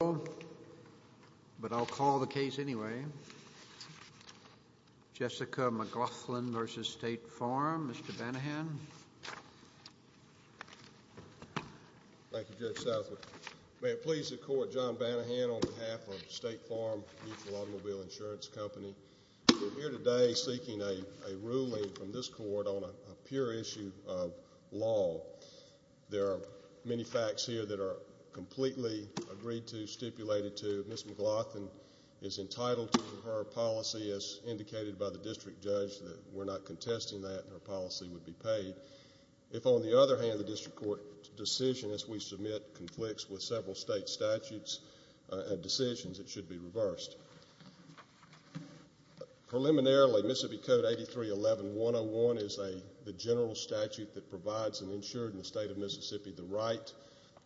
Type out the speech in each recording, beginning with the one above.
But I'll call the case anyway. Jessica McGlothin v. State Farm. Mr. Banahan. Thank you, Judge Southwood. May it please the Court, John Banahan on behalf of State Farm Mutual Automobile Insurance Company. We're here today seeking a ruling from this Court on a pure issue of law. There are many facts here that are completely agreed to, stipulated to. Ms. McGlothin is entitled to her policy as indicated by the District Judge. We're not contesting that. Her policy would be paid. If, on the other hand, the District Court's decision, as we submit, conflicts with several state statutes and decisions, it should be reversed. Preliminarily, Mississippi Code 8311-101 is the general statute that provides an insured in the state of Mississippi the right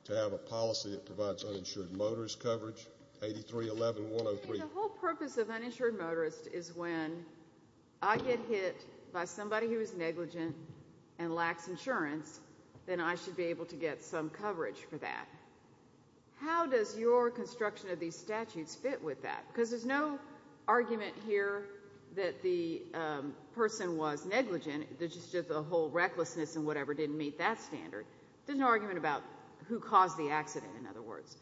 to have a policy that provides uninsured motorist coverage. 8311-103 The whole purpose of uninsured motorist is when I get hit by somebody who is negligent and lacks insurance, then I should be able to get some coverage for that. How does your construction of these statutes fit with that? Because there's no argument here that the person was negligent. It's just a whole recklessness and whatever didn't meet that standard. There's no argument about who caused the accident, in other words.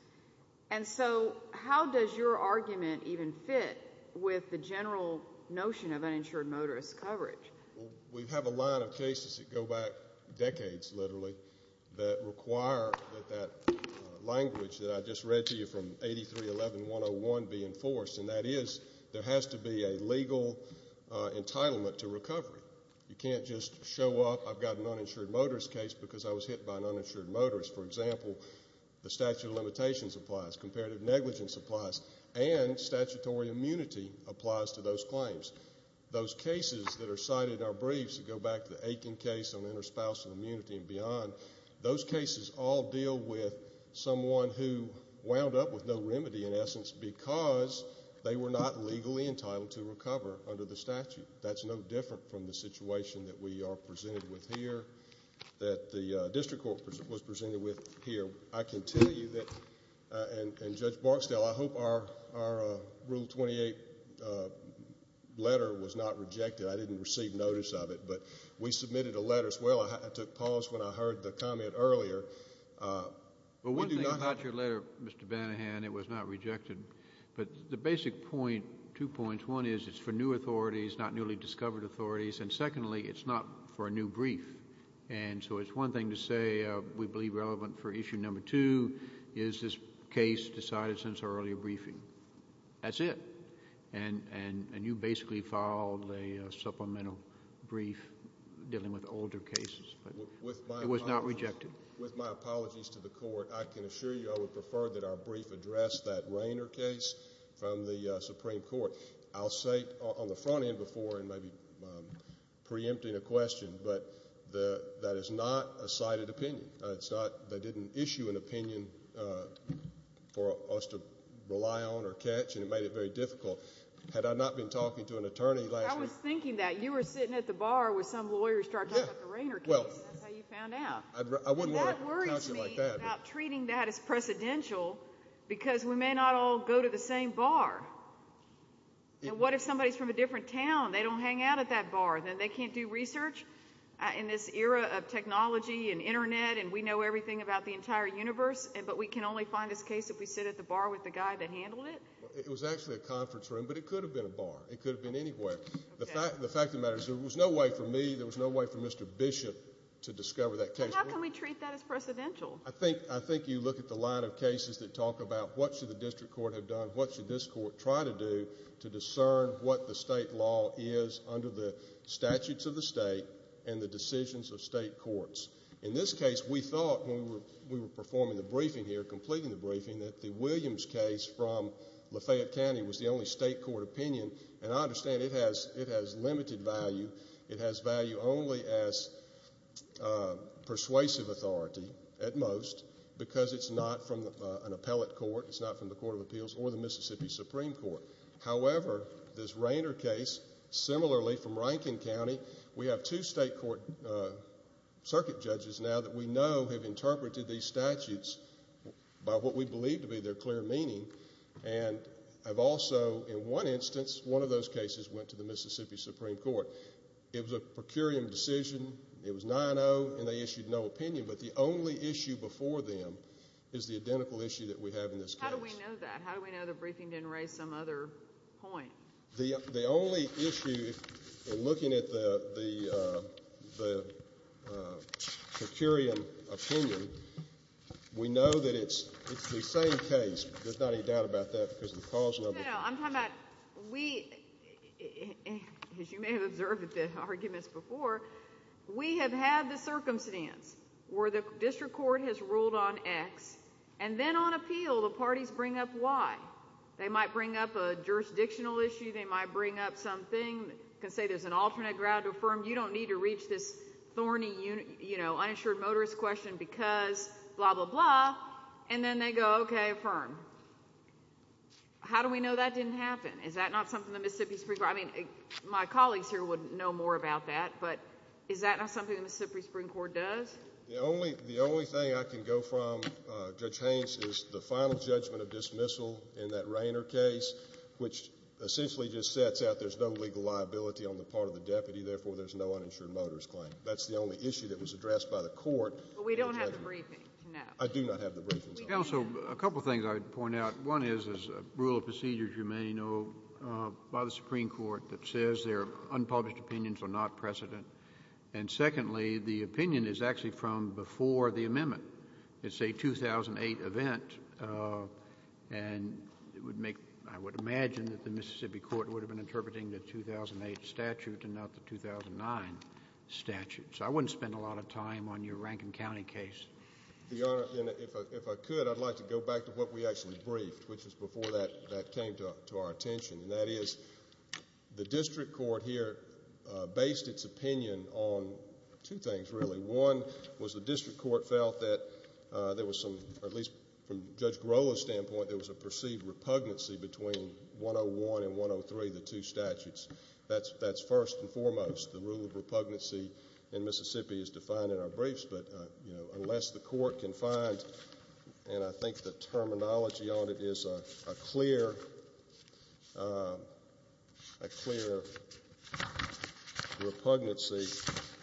And so how does your argument even fit with the general notion of uninsured motorist coverage? We have a line of cases that go back decades, literally, that require that that language that I just read to you from 8311-101 be enforced, and that is there has to be a legal entitlement to recovery. You can't just show up, I've got an uninsured motorist case because I was hit by an uninsured motorist. For example, the statute of limitations applies, comparative negligence applies, and statutory immunity applies to those claims. Those cases that are cited in our briefs that go back to the Aiken case on interspousal immunity and beyond, those cases all deal with someone who wound up with no remedy, in essence, because they were not legally entitled to recover under the statute. That's no different from the situation that we are presented with here, that the district court was presented with here. And I can tell you that, and Judge Barksdale, I hope our Rule 28 letter was not rejected. I didn't receive notice of it. But we submitted a letter as well. I took pause when I heard the comment earlier. Well, one thing about your letter, Mr. Banahan, it was not rejected. But the basic point, two points, one is it's for new authorities, not newly discovered authorities, and secondly, it's not for a new brief. And so it's one thing to say we believe relevant for issue number two is this case decided since our earlier briefing. That's it. And you basically filed a supplemental brief dealing with older cases. It was not rejected. With my apologies to the court, I can assure you I would prefer that our brief address that Rainer case from the Supreme Court. I'll say on the front end before and maybe preempting a question, but that is not a cited opinion. They didn't issue an opinion for us to rely on or catch, and it made it very difficult. Had I not been talking to an attorney last week. I was thinking that. You were sitting at the bar with some lawyer starting to talk about the Rainer case, and that's how you found out. That worries me about treating that as precedential because we may not all go to the same bar. And what if somebody is from a different town? They don't hang out at that bar. They can't do research in this era of technology and Internet, and we know everything about the entire universe, but we can only find this case if we sit at the bar with the guy that handled it? It was actually a conference room, but it could have been a bar. It could have been anywhere. The fact of the matter is there was no way for me, there was no way for Mr. Bishop to discover that case. How can we treat that as precedential? I think you look at the line of cases that talk about what should the district court have done, what should this court try to do to discern what the state law is under the statutes of the state and the decisions of state courts. In this case, we thought when we were performing the briefing here, completing the briefing, that the Williams case from Lafayette County was the only state court opinion, and I understand it has limited value. It has value only as persuasive authority at most because it's not from an appellate court, it's not from the Court of Appeals or the Mississippi Supreme Court. However, this Rainer case, similarly from Rankin County, we have two state court circuit judges now that we know have interpreted these statutes by what we believe to be their clear meaning, and have also, in one instance, one of those cases went to the Mississippi Supreme Court. It was a per curiam decision. It was 9-0, and they issued no opinion. But the only issue before them is the identical issue that we have in this case. How do we know that? How do we know the briefing didn't raise some other point? The only issue in looking at the per curiam opinion, we know that it's the same case. There's not any doubt about that because of the cause number. No, no, no. I'm talking about we, as you may have observed at the arguments before, we have had the circumstance where the district court has ruled on X, and then on appeal the parties bring up Y. They might bring up a jurisdictional issue. They might bring up something. They can say there's an alternate ground to affirm. You don't need to reach this thorny, you know, uninsured motorist question because blah, blah, blah. And then they go, okay, affirm. How do we know that didn't happen? Is that not something the Mississippi Supreme Court, I mean, my colleagues here would know more about that, but is that not something the Mississippi Supreme Court does? The only thing I can go from, Judge Haynes, is the final judgment of dismissal in that Rayner case, which essentially just sets out there's no legal liability on the part of the deputy, therefore there's no uninsured motorist claim. That's the only issue that was addressed by the court. But we don't have the briefing, no. I do not have the briefing. Counsel, a couple of things I would point out. One is there's a rule of procedure, as you may know, by the Supreme Court that says there are unpublished opinions are not precedent. And secondly, the opinion is actually from before the amendment. It's a 2008 event, and it would make, I would imagine that the Mississippi Court would have been interpreting the 2008 statute and not the 2009 statute. So I wouldn't spend a lot of time on your Rankin County case. Your Honor, if I could, I'd like to go back to what we actually briefed, which was before that came to our attention, and that is the district court here based its opinion on two things, really. One was the district court felt that there was some, or at least from Judge Grola's standpoint, there was a perceived repugnancy between 101 and 103, the two statutes. That's first and foremost. The rule of repugnancy in Mississippi is defined in our briefs, but unless the court can find, and I think the terminology on it is a clear repugnancy,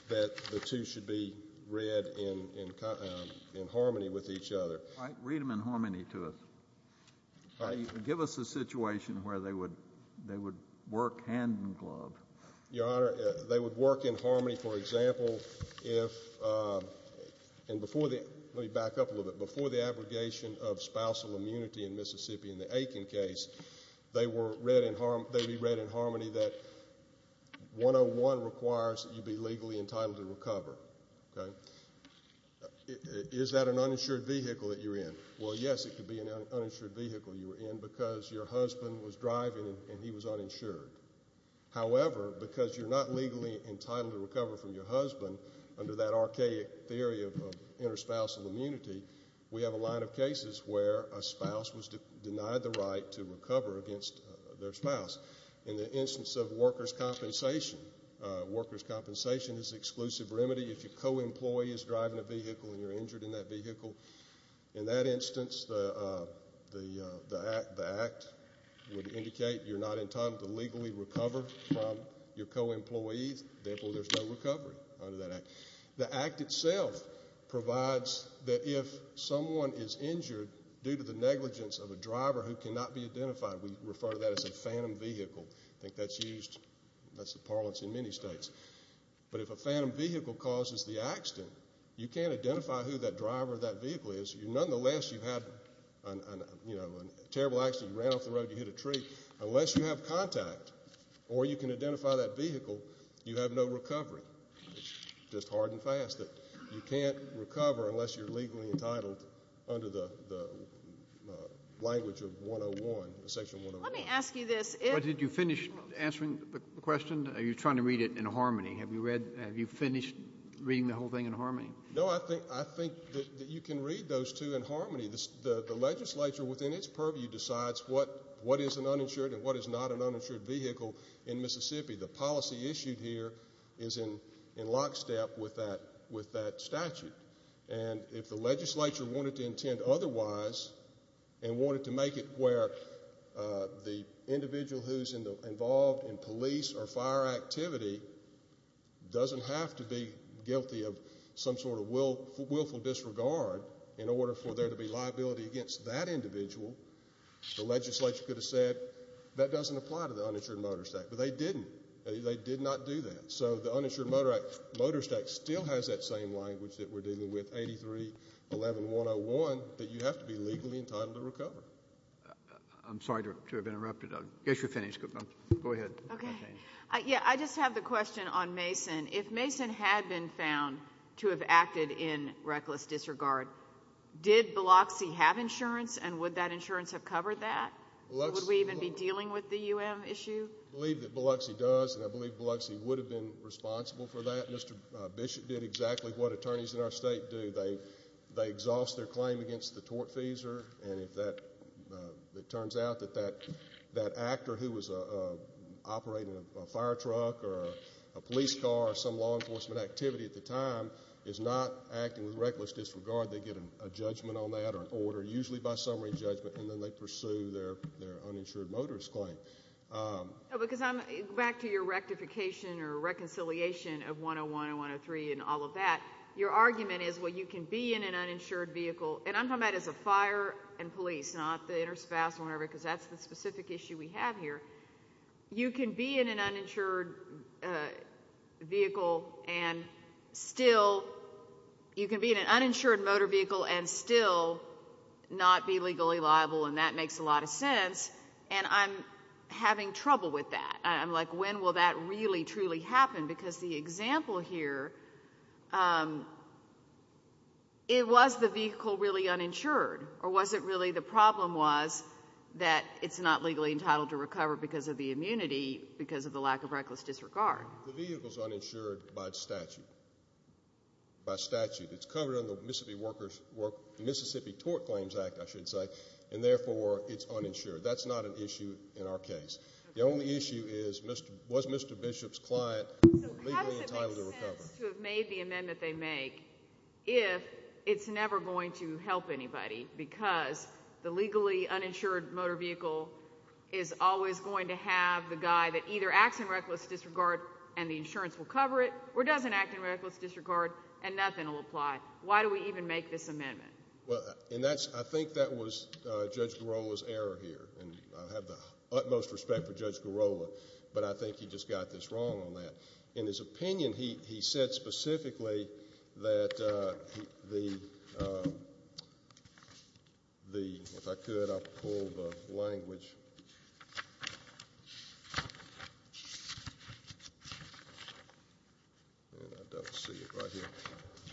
that the two should be read in harmony with each other. Read them in harmony to us. Give us a situation where they would work hand in glove. Your Honor, they would work in harmony, for example, if, and before the, let me back up a little bit, before the abrogation of spousal immunity in Mississippi in the Aiken case, they were read in harmony that 101 requires that you be legally entitled to recover. Is that an uninsured vehicle that you're in? Well, yes, it could be an uninsured vehicle you were in because your husband was driving and he was uninsured. However, because you're not legally entitled to recover from your husband, under that archaic theory of interspousal immunity, we have a line of cases where a spouse was denied the right to recover against their spouse. In the instance of workers' compensation, workers' compensation is an exclusive remedy if your co-employee is driving a vehicle and you're injured in that vehicle. In that instance, the act would indicate you're not entitled to legally recover from your co-employees. Therefore, there's no recovery under that act. The act itself provides that if someone is injured due to the negligence of a driver who cannot be identified, we refer to that as a phantom vehicle. I think that's used, that's the parlance in many states. But if a phantom vehicle causes the accident, you can't identify who that driver of that vehicle is. Nonetheless, you've had a terrible accident. You ran off the road, you hit a tree. Unless you have contact or you can identify that vehicle, you have no recovery. It's just hard and fast that you can't recover unless you're legally entitled under the language of section 101. Let me ask you this. Did you finish answering the question? Or are you trying to read it in harmony? Have you finished reading the whole thing in harmony? No, I think that you can read those two in harmony. The legislature, within its purview, decides what is an uninsured and what is not an uninsured vehicle in Mississippi. The policy issued here is in lockstep with that statute. And if the legislature wanted to intend otherwise and wanted to make it where the individual who's involved in police or fire activity doesn't have to be guilty of some sort of willful disregard in order for there to be liability against that individual, the legislature could have said that doesn't apply to the uninsured motorist act. But they didn't. They did not do that. So the uninsured motorist act still has that same language that we're dealing with, 8311101, that you have to be legally entitled to recover. I'm sorry to have interrupted. I guess you're finished. Go ahead. Okay. Yeah, I just have the question on Mason. If Mason had been found to have acted in reckless disregard, did Biloxi have insurance and would that insurance have covered that? Would we even be dealing with the UM issue? I believe that Biloxi does, and I believe Biloxi would have been responsible for that. Mr. Bishop did exactly what attorneys in our state do. They exhaust their claim against the tortfeasor, and if it turns out that that actor who was operating a fire truck or a police car or some law enforcement activity at the time is not acting with reckless disregard, they get a judgment on that or an order, usually by summary judgment, and then they pursue their uninsured motorist claim. Because I'm back to your rectification or reconciliation of 101 and 103 and all of that. Your argument is, well, you can be in an uninsured vehicle, and I'm talking about as a fire and police, not the interspouse or whatever because that's the specific issue we have here. You can be in an uninsured vehicle and still not be legally liable, and that makes a lot of sense, and I'm having trouble with that. I'm like, when will that really, truly happen? Because the example here, it was the vehicle really uninsured, or was it really the problem was that it's not legally entitled to recover because of the immunity, because of the lack of reckless disregard? The vehicle's uninsured by statute. By statute. It's covered under the Mississippi Tort Claims Act, I should say, and therefore it's uninsured. That's not an issue in our case. The only issue is, was Mr. Bishop's client legally entitled to recover? He has to have made the amendment they make if it's never going to help anybody because the legally uninsured motor vehicle is always going to have the guy that either acts in reckless disregard and the insurance will cover it or doesn't act in reckless disregard and nothing will apply. Why do we even make this amendment? I think that was Judge Girola's error here, and I have the utmost respect for Judge Girola, but I think he just got this wrong on that. In his opinion, he said specifically that the, if I could, I'll pull the language.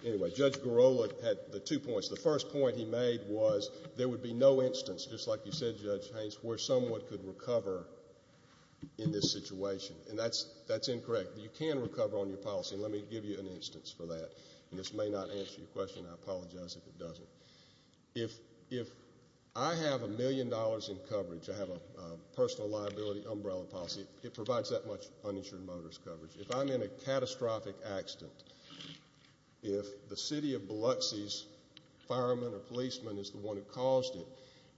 Anyway, Judge Girola had the two points. The first point he made was there would be no instance, just like you said, Judge Haynes, where someone could recover in this situation, and that's incorrect. You can recover on your policy, and let me give you an instance for that. This may not answer your question. I apologize if it doesn't. If I have a million dollars in coverage, I have a personal liability umbrella policy, it provides that much uninsured motorist coverage. If I'm in a catastrophic accident, if the city of Biloxi's fireman or policeman is the one who caused it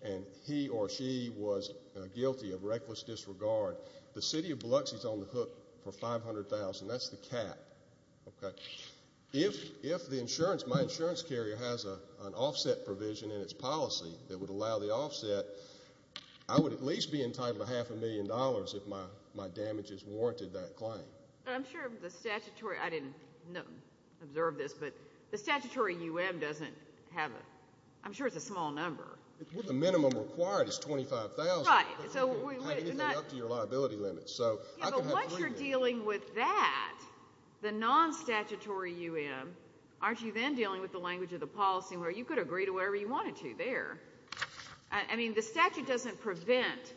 and he or she was guilty of reckless disregard, the city of Biloxi is on the hook for $500,000. That's the cap. If the insurance, my insurance carrier has an offset provision in its policy that would allow the offset, I would at least be entitled to half a million dollars if my damages warranted that claim. I'm sure the statutory, I didn't observe this, but the statutory U.M. doesn't have a, I'm sure it's a small number. Well, the minimum required is $25,000. Right. So we wouldn't have anything up to your liability limit. Yeah, but once you're dealing with that, the non-statutory U.M., aren't you then dealing with the language of the policy where you could agree to whatever you wanted to there? I mean, the statute doesn't prevent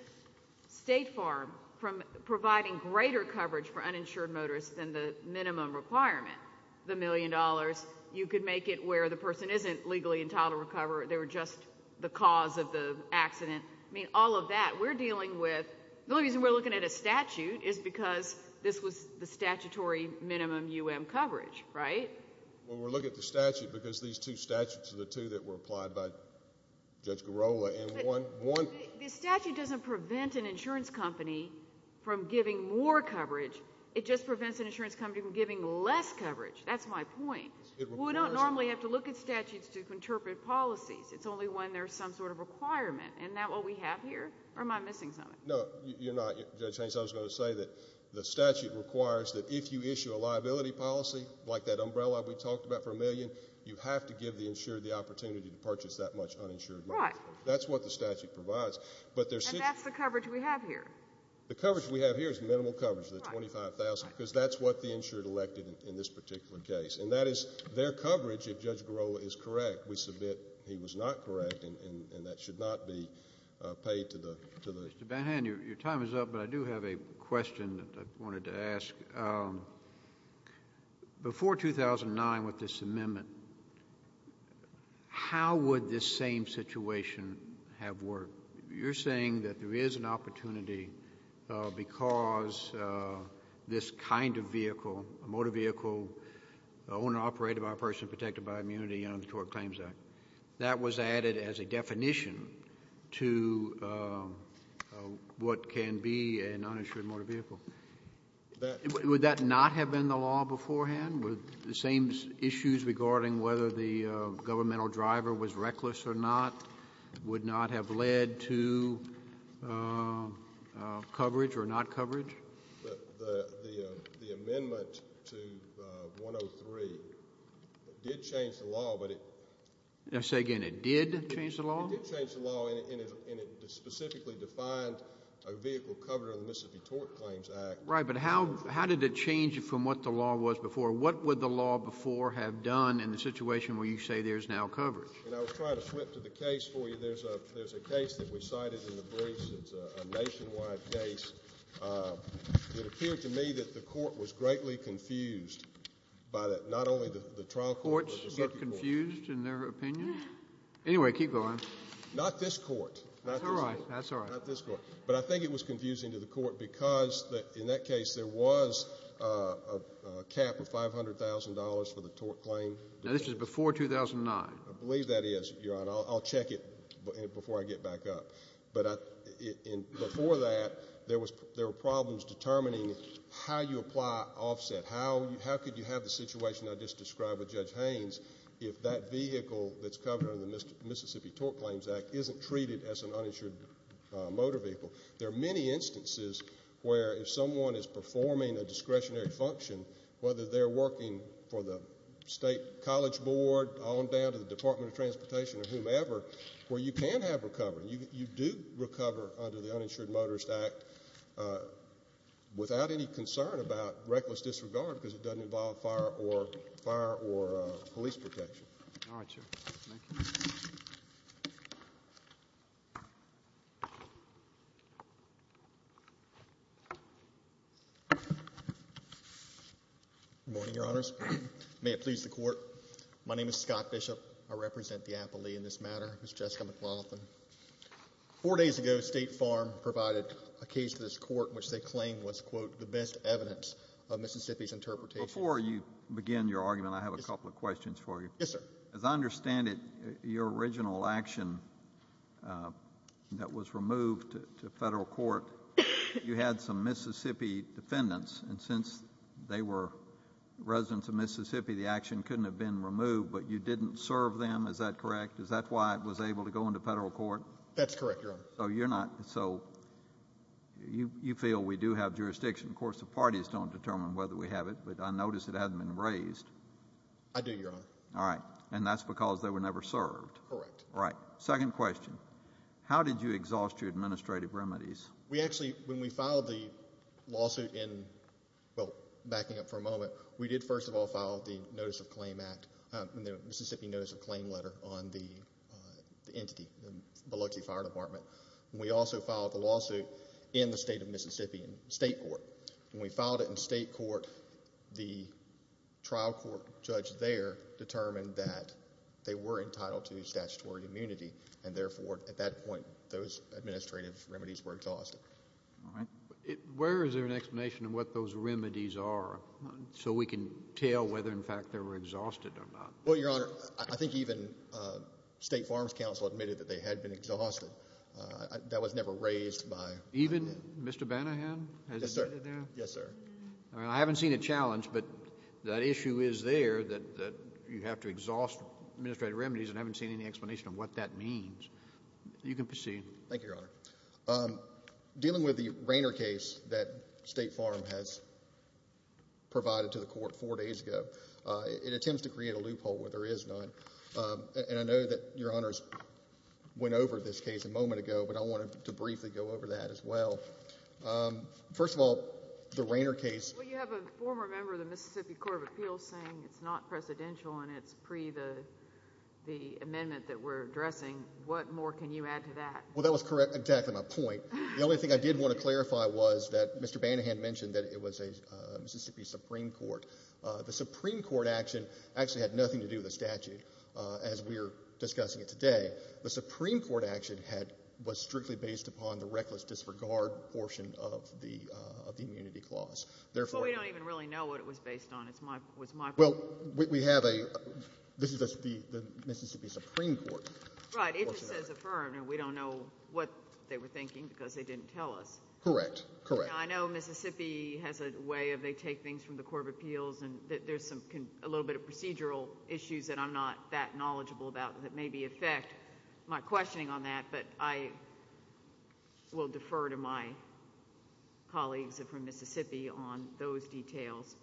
State Farm from providing greater coverage for uninsured motorists than the minimum requirement, the million dollars. You could make it where the person isn't legally entitled to recover. They were just the cause of the accident. I mean, all of that. We're dealing with, the only reason we're looking at a statute is because this was the statutory minimum U.M. coverage, right? Well, we're looking at the statute because these two statutes are the two that were applied by Judge Girola. But the statute doesn't prevent an insurance company from giving more coverage. It just prevents an insurance company from giving less coverage. That's my point. Well, we don't normally have to look at statutes to interpret policies. It's only when there's some sort of requirement, and that's what we have here? Or am I missing something? No, you're not. Judge Haynes, I was going to say that the statute requires that if you issue a liability policy, like that umbrella we talked about for a million, you have to give the insured the opportunity to purchase that much uninsured money. Right. That's what the statute provides. And that's the coverage we have here. The coverage we have here is minimal coverage, the $25,000, because that's what the insured elected in this particular case. And that is their coverage if Judge Girola is correct. We submit he was not correct, and that should not be paid to the ---- Mr. Banhan, your time is up, but I do have a question that I wanted to ask. Before 2009 with this amendment, how would this same situation have worked? You're saying that there is an opportunity because this kind of vehicle, a motor vehicle owned and operated by a person protected by immunity under the Tort Claims Act, that was added as a definition to what can be an uninsured motor vehicle. Would that not have been the law beforehand? Would the same issues regarding whether the governmental driver was reckless or not would not have led to coverage or not coverage? The amendment to 103 did change the law, but it ---- Say again, it did change the law? It did change the law, and it specifically defined a vehicle covered under the Mississippi Tort Claims Act. Right, but how did it change from what the law was before? What would the law before have done in the situation where you say there's now coverage? I was trying to flip to the case for you. There's a case that we cited in the briefs. It's a nationwide case. It appeared to me that the Court was greatly confused by not only the trial court but the circuit court. Courts get confused in their opinion? Anyway, keep going. Not this Court. That's all right. Not this Court. But I think it was confusing to the Court because in that case there was a cap of $500,000 for the tort claim. Now, this was before 2009. I believe that is, Your Honor. I'll check it before I get back up. But before that, there were problems determining how you apply offset. How could you have the situation I just described with Judge Haynes if that vehicle that's covered under the Mississippi Tort Claims Act isn't treated as an uninsured motor vehicle? There are many instances where if someone is performing a discretionary function, whether they're working for the State College Board on down to the Department of Transportation or whomever, where you can have recovery, you do recover under the Uninsured Motorist Act without any concern about reckless disregard because it doesn't involve fire or police protection. All right, sir. Thank you. Good morning, Your Honors. May it please the Court. My name is Scott Bishop. I represent the appellee in this matter, Ms. Jessica McLaughlin. Four days ago, State Farm provided a case to this Court in which they claimed was, quote, the best evidence of Mississippi's interpretation. Before you begin your argument, I have a couple of questions for you. Yes, sir. As I understand it, your original action that was removed to federal court, you had some Mississippi defendants, and since they were residents of Mississippi, the action couldn't have been removed, but you didn't serve them. Is that correct? Is that why it was able to go into federal court? That's correct, Your Honor. So you're not, so you feel we do have jurisdiction. Of course, the parties don't determine whether we have it, but I notice it hasn't been raised. I do, Your Honor. All right. And that's because they were never served. Correct. All right. Second question. How did you exhaust your administrative remedies? We actually, when we filed the lawsuit in, well, backing up for a moment, we did first of all file the Notice of Claim Act, the Mississippi Notice of Claim letter on the entity, the Biloxi Fire Department. We also filed the lawsuit in the state of Mississippi in state court. When we filed it in state court, the trial court judge there determined that they were entitled to statutory immunity, and therefore, at that point, those administrative remedies were exhausted. All right. Where is there an explanation of what those remedies are? So we can tell whether, in fact, they were exhausted or not. Well, Your Honor, I think even State Farms Council admitted that they had been exhausted. That was never raised by them. Even Mr. Banahan? Yes, sir. Yes, sir. I haven't seen a challenge, but that issue is there that you have to exhaust administrative remedies, and I haven't seen any explanation of what that means. You can proceed. Thank you, Your Honor. Dealing with the Rainer case that State Farm has provided to the court four days ago, it attempts to create a loophole where there is none, and I know that Your Honors went over this case a moment ago, but I wanted to briefly go over that as well. First of all, the Rainer case— Well, you have a former member of the Mississippi Court of Appeals saying it's not presidential and it's pre the amendment that we're addressing. What more can you add to that? Well, that was exactly my point. The only thing I did want to clarify was that Mr. Banahan mentioned that it was a Mississippi Supreme Court. The Supreme Court action actually had nothing to do with the statute as we're discussing it today. The Supreme Court action was strictly based upon the reckless disregard portion of the immunity clause. Well, we don't even really know what it was based on. Well, we have a—this is the Mississippi Supreme Court. Right. It just says affirmed, and we don't know what they were thinking because they didn't tell us. Correct, correct. I know Mississippi has a way of they take things from the Court of Appeals, and there's a little bit of procedural issues that I'm not that knowledgeable about that may affect my questioning on that, but I will defer to my colleagues from Mississippi on those details.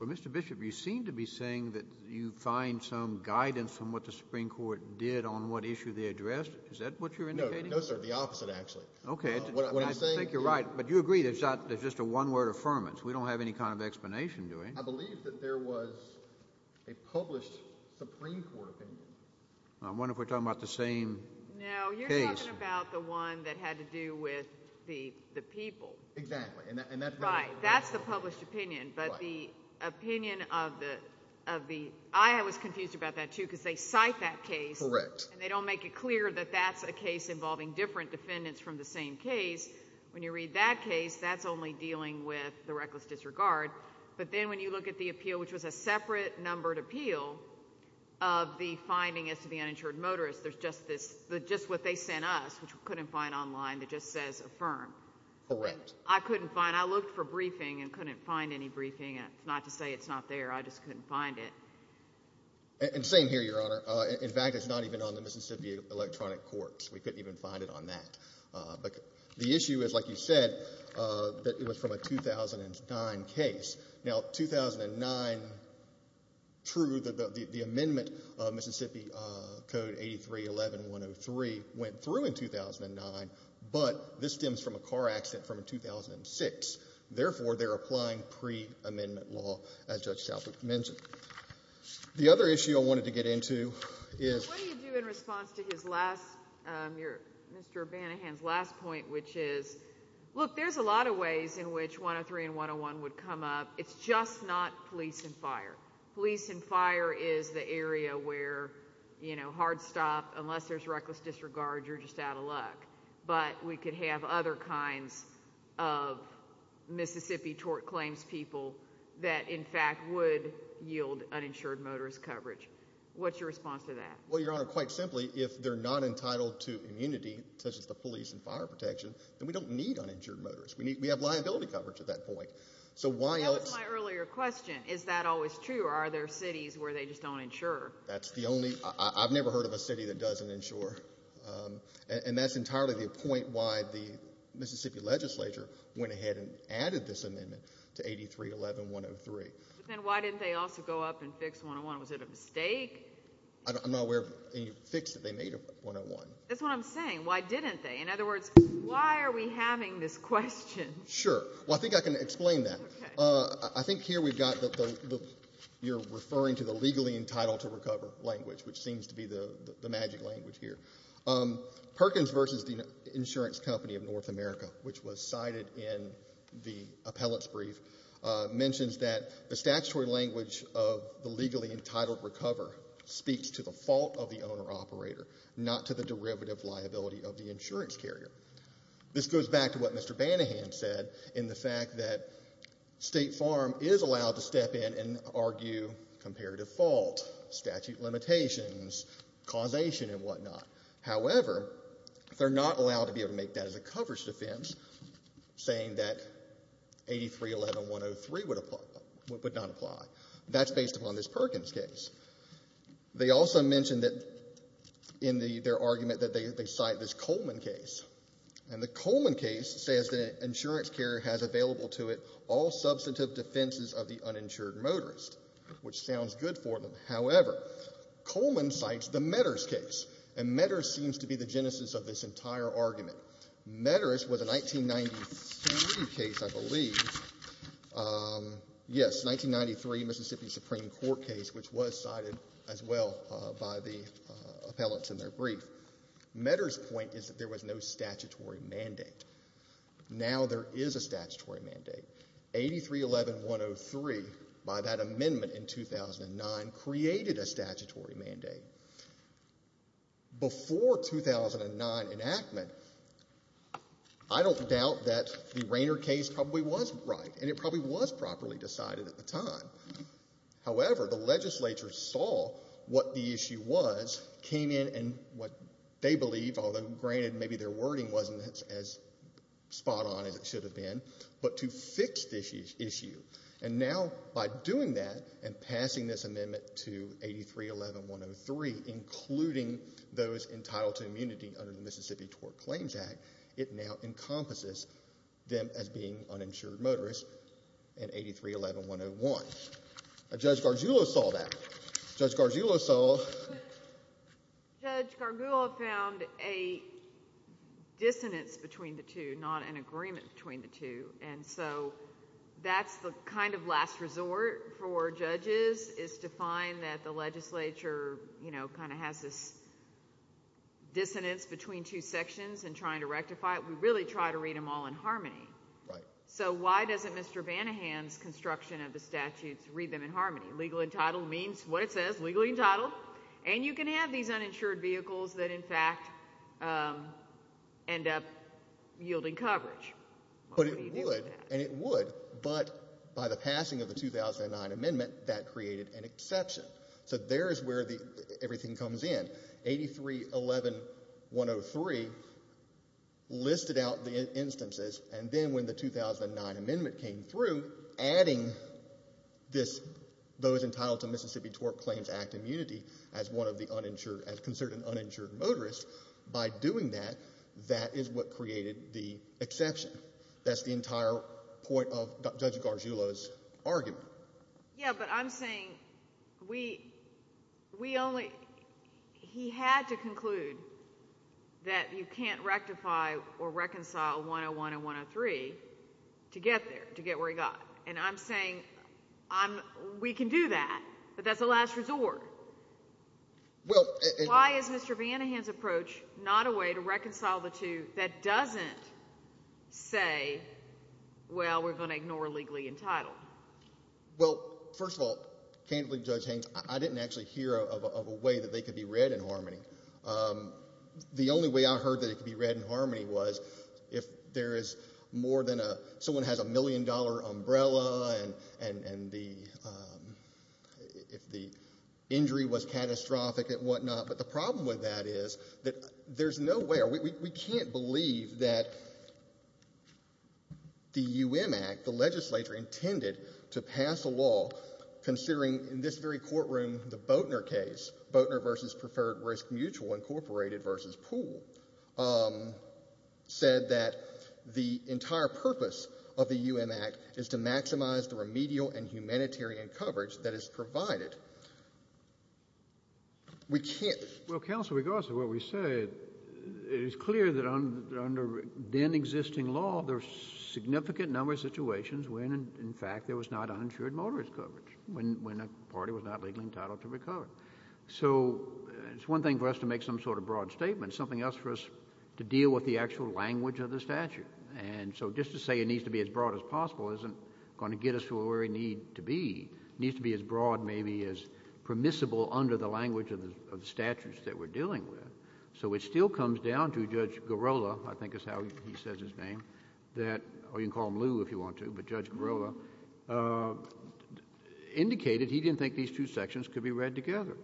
Well, Mr. Bishop, you seem to be saying that you find some guidance from what the Supreme Court did on what issue they addressed. Is that what you're indicating? No, sir, the opposite, actually. Okay. What I'm saying is— I think you're right, but you agree there's just a one-word affirmance. We don't have any kind of explanation to it. I believe that there was a published Supreme Court opinion. I wonder if we're talking about the same case. No, you're talking about the one that had to do with the people. Exactly, and that's the— But the opinion of the—I was confused about that, too, because they cite that case. Correct. And they don't make it clear that that's a case involving different defendants from the same case. When you read that case, that's only dealing with the reckless disregard. But then when you look at the appeal, which was a separate numbered appeal of the finding as to the uninsured motorist, there's just this—just what they sent us, which we couldn't find online, that just says affirm. Correct. I couldn't find—I looked for briefing and couldn't find any briefing. It's not to say it's not there. I just couldn't find it. And same here, Your Honor. In fact, it's not even on the Mississippi Electronic Courts. We couldn't even find it on that. But the issue is, like you said, that it was from a 2009 case. Now, 2009, true, the amendment of Mississippi Code 8311103 went through in 2009, but this stems from a car accident from 2006. Therefore, they're applying pre-amendment law, as Judge Shalik mentioned. The other issue I wanted to get into is— What do you do in response to his last—your—Mr. O'Banahan's last point, which is, look, there's a lot of ways in which 103 and 101 would come up. It's just not police and fire. Police and fire is the area where, you know, hard stop, unless there's reckless disregard, you're just out of luck. But we could have other kinds of Mississippi tort claims people that, in fact, would yield uninsured motorist coverage. What's your response to that? Well, Your Honor, quite simply, if they're not entitled to immunity, such as the police and fire protection, then we don't need uninsured motorists. We have liability coverage at that point. So why else— That was my earlier question. Is that always true, or are there cities where they just don't insure? That's the only—I've never heard of a city that doesn't insure. And that's entirely the point why the Mississippi legislature went ahead and added this amendment to 83-11-103. But then why didn't they also go up and fix 101? Was it a mistake? I'm not aware of any fix that they made to 101. That's what I'm saying. Why didn't they? In other words, why are we having this question? Sure. Well, I think I can explain that. Okay. I think here we've got the—you're referring to the legally entitled to recover language, which seems to be the magic language here. Perkins v. The Insurance Company of North America, which was cited in the appellant's brief, mentions that the statutory language of the legally entitled recover speaks to the fault of the owner-operator, not to the derivative liability of the insurance carrier. This goes back to what Mr. Banahan said in the fact that State Farm is allowed to step in and argue comparative fault, statute limitations, causation, and whatnot. However, they're not allowed to be able to make that as a coverage defense, saying that 83-11-103 would not apply. That's based upon this Perkins case. They also mention that in their argument that they cite this Coleman case, and the Coleman case says that an insurance carrier has available to it all substantive defenses of the uninsured motorist, which sounds good for them. However, Coleman cites the Meadors case, and Meadors seems to be the genesis of this entire argument. Meadors was a 1993 case, I believe. Yes, 1993 Mississippi Supreme Court case, which was cited as well by the appellants in their brief. Meadors' point is that there was no statutory mandate. Now there is a statutory mandate. 83-11-103, by that amendment in 2009, created a statutory mandate. Before 2009 enactment, I don't doubt that the Rainer case probably was right, and it probably was properly decided at the time. However, the legislature saw what the issue was, came in and what they believe, although granted maybe their wording wasn't as spot on as it should have been, but to fix this issue. And now by doing that and passing this amendment to 83-11-103, including those entitled to immunity under the Mississippi Tort Claims Act, it now encompasses them as being uninsured motorists in 83-11-101. Judge Gargiulo saw that. Judge Gargiulo saw... Judge Gargiulo found a dissonance between the two, not an agreement between the two, and so that's the kind of last resort for judges, is to find that the legislature kind of has this dissonance between two sections and trying to rectify it. We really try to read them all in harmony. So why doesn't Mr. Vanahan's construction of the statutes read them in harmony? Legal entitled means what it says, legally entitled, and you can have these uninsured vehicles that in fact end up yielding coverage. But it would, and it would. But by the passing of the 2009 amendment, that created an exception. So there is where everything comes in. 83-11-103 listed out the instances, and then when the 2009 amendment came through, adding those entitled to Mississippi Tort Claims Act immunity as considered an uninsured motorist, by doing that, that is what created the exception. That's the entire point of Judge Gargiulo's argument. Yeah, but I'm saying we only... He had to conclude that you can't rectify or reconcile 101 and 103 to get there, to get where he got. And I'm saying we can do that, but that's a last resort. Why is Mr. Vanahan's approach not a way to reconcile the two that doesn't say, well, we're going to ignore legally entitled? Well, first of all, candidly, Judge Haynes, I didn't actually hear of a way that they could be read in harmony. The only way I heard that it could be read in harmony was if there is more than a... Someone has a million-dollar umbrella, and if the injury was catastrophic and whatnot, but the problem with that is that there's no way... We can't believe that the UM Act, the legislature, intended to pass a law considering, in this very courtroom, the Boatner case, Boatner v. Preferred Risk Mutual, Incorporated v. Pool, said that the entire purpose of the UM Act is to maximize the remedial and humanitarian coverage that is provided. We can't... Well, counsel, regardless of what we say, it is clear that under then-existing law, there's a significant number of situations when, in fact, there was not uninsured motorist coverage, when a party was not legally entitled to recover. So it's one thing for us to make some sort of broad statement. It's something else for us to deal with the actual language of the statute. And so just to say it needs to be as broad as possible isn't going to get us to where we need to be. It needs to be as broad, maybe, as permissible under the language of the statutes that we're dealing with. So it still comes down to Judge Girola, I think is how he says his name, that... Oh, you can call him Lew if you want to, but Judge Girola indicated he didn't think these two sections could be read together.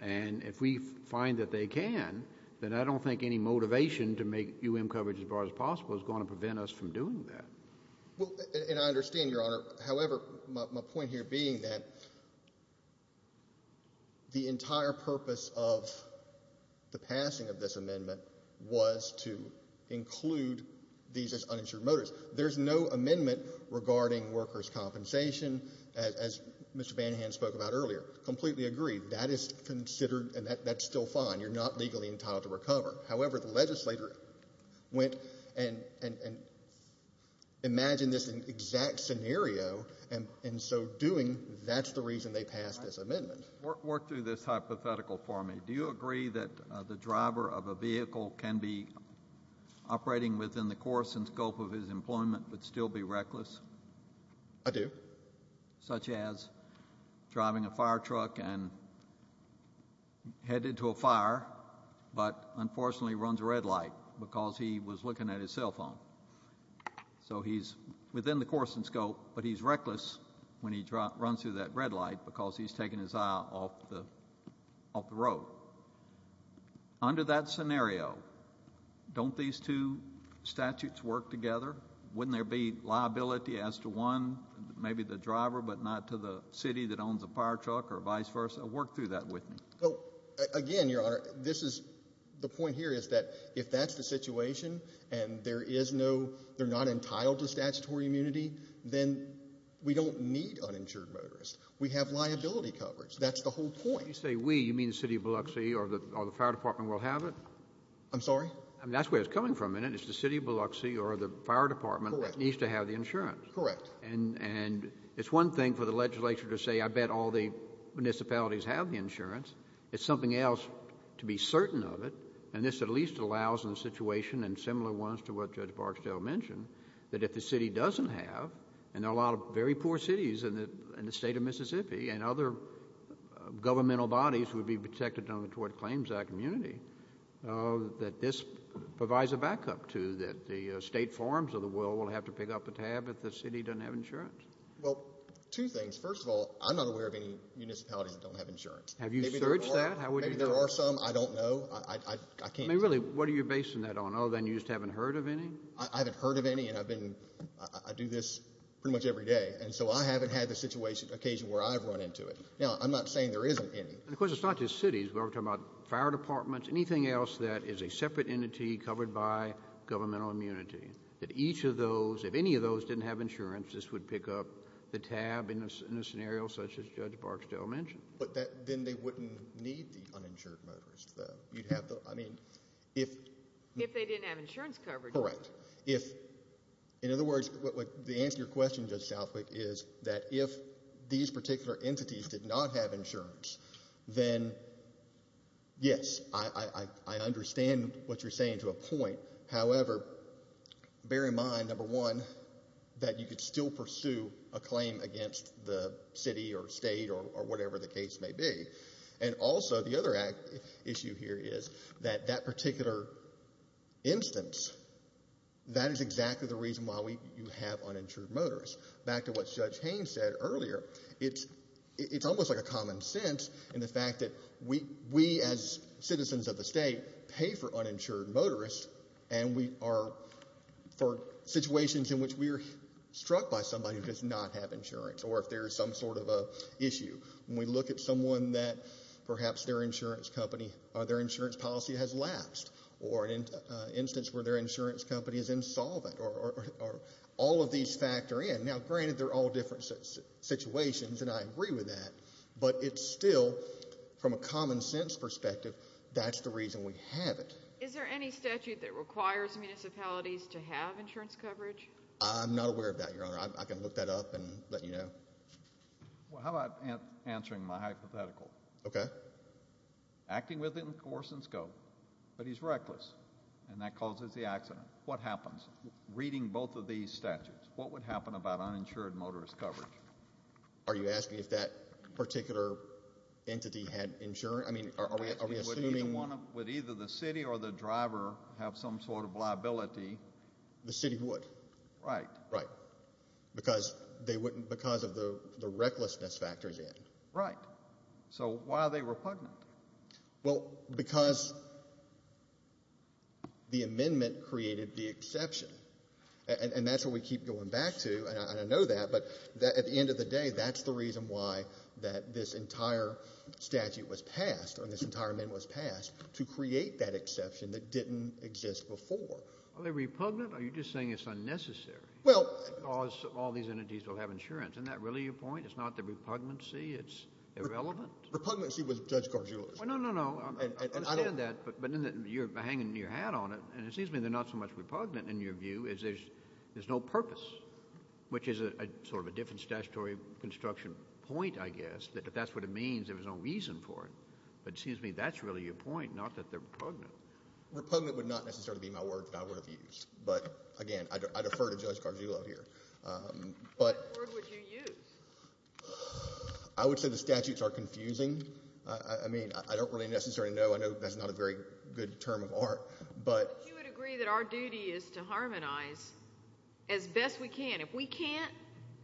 And if we find that they can, then I don't think any motivation to make U.M. coverage as broad as possible is going to prevent us from doing that. And I understand, Your Honor. However, my point here being that the entire purpose of the passing of this amendment was to include these as uninsured motorists. There's no amendment regarding workers' compensation as Mr. Vanhan spoke about earlier. Completely agree. That is considered and that's still fine. You're not legally entitled to recover. However, the legislator went and imagined this exact scenario and so doing, that's the reason they passed this amendment. Work through this hypothetical for me. Do you agree that the driver of a vehicle can be operating within the course and scope of his employment but still be reckless? I do. Such as driving a fire truck and headed to a fire but unfortunately runs a red light because he was looking at his cell phone. So he's within the course and scope, but he's reckless when he runs through that red light because he's taking his eye off the road. Under that scenario, don't these two statutes work together? Wouldn't there be liability as to one, maybe the driver, but not to the city that owns the fire truck or vice versa? Work through that with me. Again, Your Honor, the point here is that if that's the situation and they're not entitled to statutory immunity, then we don't need uninsured motorists. We have liability coverage. That's the whole point. When you say we, you mean the city of Biloxi or the fire department will have it? I'm sorry? That's where it's coming from, isn't it? It's the city of Biloxi or the fire department that needs to have the insurance. Correct. And it's one thing for the legislature to say, I bet all the municipalities have the insurance. It's something else to be certain of it, and this at least allows in a situation and similar ones to what Judge Barksdale mentioned, that if the city doesn't have, and there are a lot of very poor cities in the state of Mississippi and other governmental bodies would be protected under the Tort Claims Act immunity, that this provides a backup to that the state forums of the world will have to pick up a tab if the city doesn't have insurance. Well, two things. First of all, I'm not aware of any municipalities that don't have insurance. Have you searched that? Maybe there are some. I don't know. Really, what are you basing that on? Other than you just haven't heard of any? I haven't heard of any, and I do this pretty much every day, and so I haven't had the situation or occasion where I've run into it. Now, I'm not saying there isn't any. Of course, it's not just cities. We're talking about fire departments, anything else that is a separate entity covered by governmental immunity, that each of those, if any of those didn't have insurance, this would pick up the tab in a scenario such as Judge Barksdale mentioned. But then they wouldn't need the uninsured motorists, though. You'd have the, I mean, if... If they didn't have insurance coverage. Correct. In other words, the answer to your question, Judge Southwick, is that if these particular entities did not have insurance, then, yes, I understand what you're saying to a point. However, bear in mind, number one, that you could still pursue a claim against the city or state or whatever the case may be. And also, the other issue here is that that particular instance, that is exactly the reason why you have uninsured motorists. Back to what Judge Haynes said earlier, it's almost like a common sense in the fact that we, as citizens of the state, pay for uninsured motorists and we are for situations in which we are struck by somebody who does not have insurance or if there is some sort of a issue. When we look at someone that perhaps their insurance company, or their insurance policy has lapsed or an instance where their insurance company is insolvent or all of these factor in. Now, granted, they're all different situations, and I agree with that, but it's still, from a common sense perspective, that's the reason we have it. Is there any statute that requires municipalities to have insurance coverage? I'm not aware of that, Your Honor. I can look that up and let you know. Well, how about answering my hypothetical? Okay. Acting with him, course and scope, but he's reckless, and that causes the accident. What happens? Reading both of these statutes, what would happen about uninsured motorist coverage? Are you asking if that particular entity had insurance? I mean, are we assuming... Would either the city or the driver have some sort of liability? The city would. Right. Right. Because of the recklessness factors in. Right. So why are they repugnant? Well, because the amendment created the exception, and that's what we keep going back to, and I know that, but at the end of the day, that's the reason why this entire statute was passed or this entire amendment was passed, to create that exception that didn't exist before. Are they repugnant? Are you just saying it's unnecessary? Well... Because all these entities will have insurance. Isn't that really your point? It's not the repugnancy? It's irrelevant? Repugnancy was Judge Gargiulo's. Well, no, no, no. I understand that, but you're hanging your hat on it, and it seems to me they're not so much repugnant, in your view, as there's no purpose, which is sort of a different statutory construction point, I guess, that if that's what it means, there was no reason for it. But it seems to me that's really your point, not that they're repugnant. Repugnant would not necessarily be my word that I would have used, but, again, I defer to Judge Gargiulo here. What word would you use? I would say the statutes are confusing. I mean, I don't really necessarily know. I know that's not a very good term of art, but... But you would agree that our duty is to harmonize as best we can. If we can't,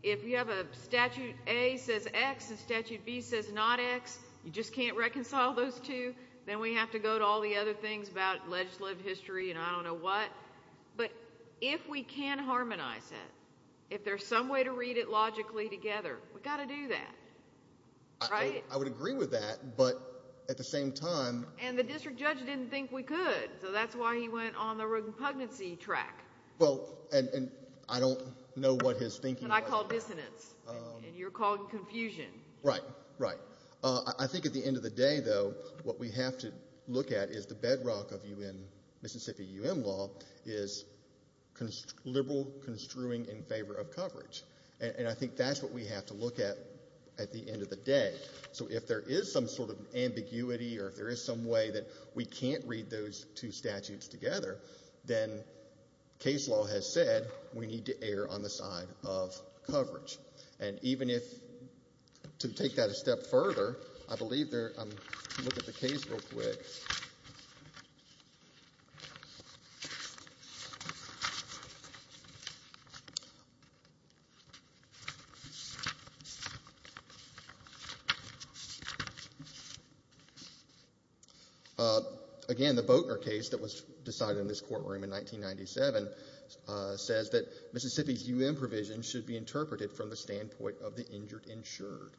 if you have a statute A says X and statute B says not X, you just can't reconcile those two, then we have to go to all the other things about legislative history and I don't know what. But if we can harmonize it, if there's some way to read it logically together, we've got to do that, right? I would agree with that, but at the same time... And the district judge didn't think we could, so that's why he went on the repugnancy track. Well, and I don't know what his thinking... And I called dissonance and you're calling confusion. Right, right. I think at the end of the day, though, what we have to look at is the bedrock of UN, Mississippi UN law, is liberal construing in favor of coverage. And I think that's what we have to look at at the end of the day. So if there is some sort of ambiguity or if there is some way that we can't read those two statutes together, then case law has said we need to err on the side of coverage. And even if... To take that a step further, I believe there... I'll look at the case real quick. Okay. Again, the Boatner case that was decided in this courtroom in 1997 says that Mississippi's UN provision should be interpreted from the standpoint of the injured insured.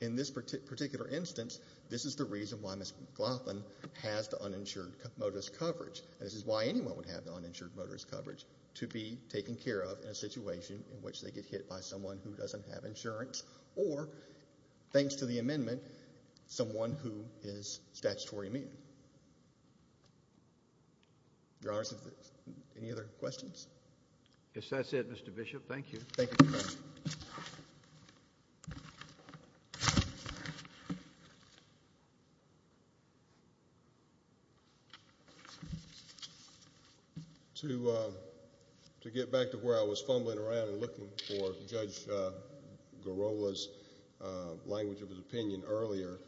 In this particular instance, this is the reason why Ms. McLaughlin has the uninsured modus coverage. This is why anyone would have the uninsured modus coverage to be taken care of in a situation in which they get hit by someone who doesn't have insurance or, thanks to the amendment, someone who is statutory immune. Your Honor, any other questions? Yes, that's it, Mr. Bishop. Thank you. Thank you, Your Honor. To get back to where I was fumbling around and looking for Judge Girola's language of his opinion earlier,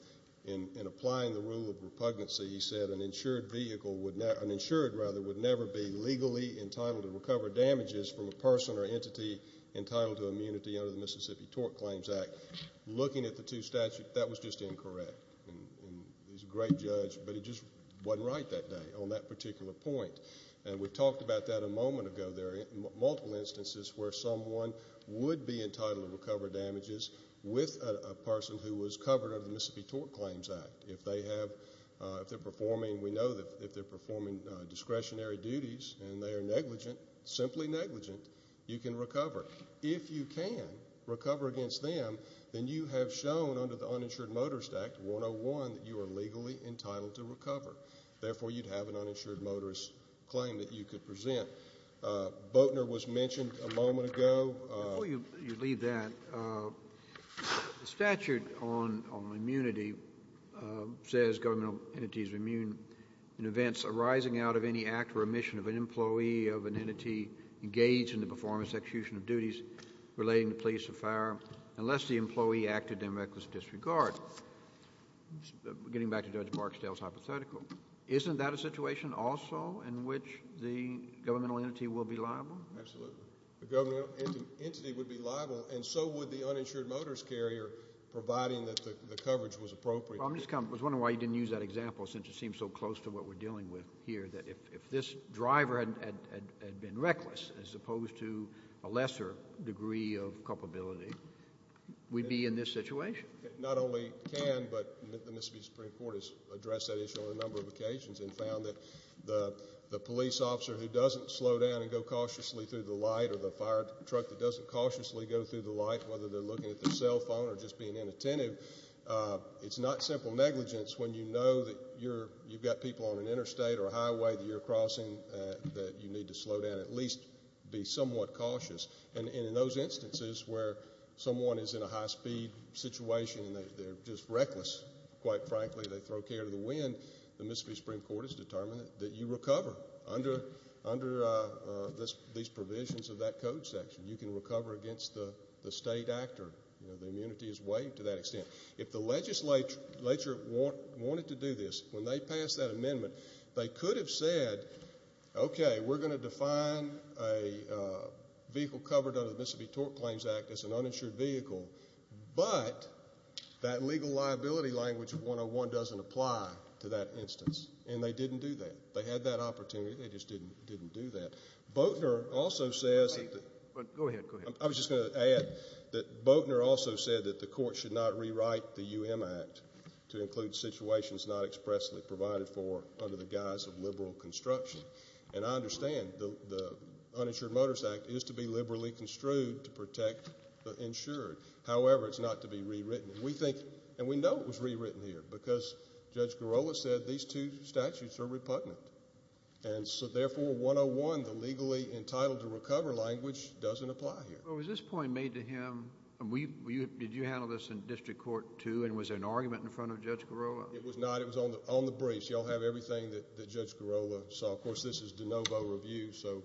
in applying the rule of repugnancy, he said an insured vehicle would never... An insured, rather, would never be legally entitled to recover damages from a person or entity entitled to immunity under the Mississippi Tort Claims Act. Looking at the two statutes, that was just incorrect. And he's a great judge, but he just wasn't right that day on that particular point. And we've talked about that a moment ago. There are multiple instances where someone would be entitled to recover damages with a person who was covered under the Mississippi Tort Claims Act. If they're performing... We know that if they're performing discretionary duties and they are negligent, simply negligent, you can recover. If you can recover against them, then you have shown under the Uninsured Motorist Act 101 that you are legally entitled to recover. Therefore, you'd have an uninsured motorist claim that you could present. Boatner was mentioned a moment ago... Before you leave that, the statute on immunity says governmental entities are immune in events arising out of any act or omission of an employee of an entity engaged in the performance or execution of duties relating to police or fire unless the employee acted in reckless disregard. Getting back to Judge Barksdale's hypothetical, isn't that a situation also in which the governmental entity will be liable? Absolutely. The governmental entity would be liable and so would the uninsured motorist carrier, providing that the coverage was appropriate. I was wondering why you didn't use that example since it seems so close to what we're dealing with here, that if this driver had been reckless as opposed to a lesser degree of culpability, we'd be in this situation. Not only can, but the Mississippi Supreme Court has addressed that issue on a number of occasions and found that the police officer who doesn't slow down and go cautiously through the light or the fire truck that doesn't cautiously go through the light, whether they're looking at their cell phone or just being inattentive, it's not simple negligence when you know that you've got people on an interstate or a highway that you're crossing that you need to slow down, at least be somewhat cautious. And in those instances where someone is in a high-speed situation and they're just reckless, quite frankly, they throw care to the wind, the Mississippi Supreme Court has determined that you recover under these provisions of that code section. You can recover against the state actor. The immunity is waived to that extent. If the legislature wanted to do this, when they passed that amendment, they could have said, okay, we're going to define a vehicle covered under the Mississippi Torque Claims Act as an uninsured vehicle, but that legal liability language of 101 doesn't apply to that instance, and they didn't do that. They had that opportunity, they just didn't do that. Boatner also says that the court should not rewrite the UM Act to include situations not expressly provided for under the guise of liberal construction. And I understand the Uninsured Motors Act is to be liberally construed to protect the insured. However, it's not to be rewritten. And we know it was rewritten here because Judge Garola said these two statutes are repugnant, and so therefore 101, the legally entitled to recover language, doesn't apply here. Was this point made to him? Did you handle this in district court too, and was there an argument in front of Judge Garola? It was not. On the briefs, you all have everything that Judge Garola saw. Of course, this is de novo review, so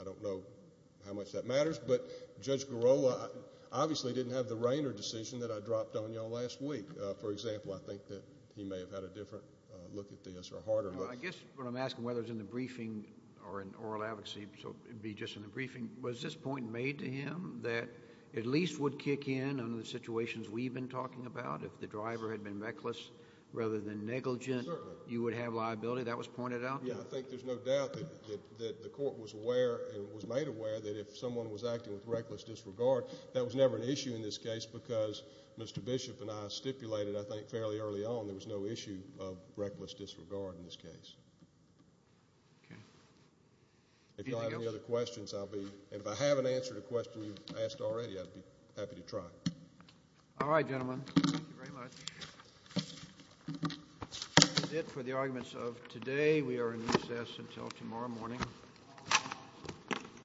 I don't know how much that matters. But Judge Garola obviously didn't have the Rainer decision that I dropped on you all last week. For example, I think that he may have had a different look at this or a harder look. I guess what I'm asking, whether it's in the briefing or in oral advocacy, so it would be just in the briefing, was this point made to him that at least would kick in under the situations we've been talking about if the driver had been reckless rather than negligent, you would have liability? That was pointed out? Yeah, I think there's no doubt that the court was aware and was made aware that if someone was acting with reckless disregard, that was never an issue in this case because Mr. Bishop and I stipulated, I think, fairly early on there was no issue of reckless disregard in this case. Okay. If you don't have any other questions, I'll be— and if I haven't answered a question you've asked already, I'd be happy to try. All right, gentlemen. Thank you very much. That's it for the arguments of today. We are in recess until tomorrow morning.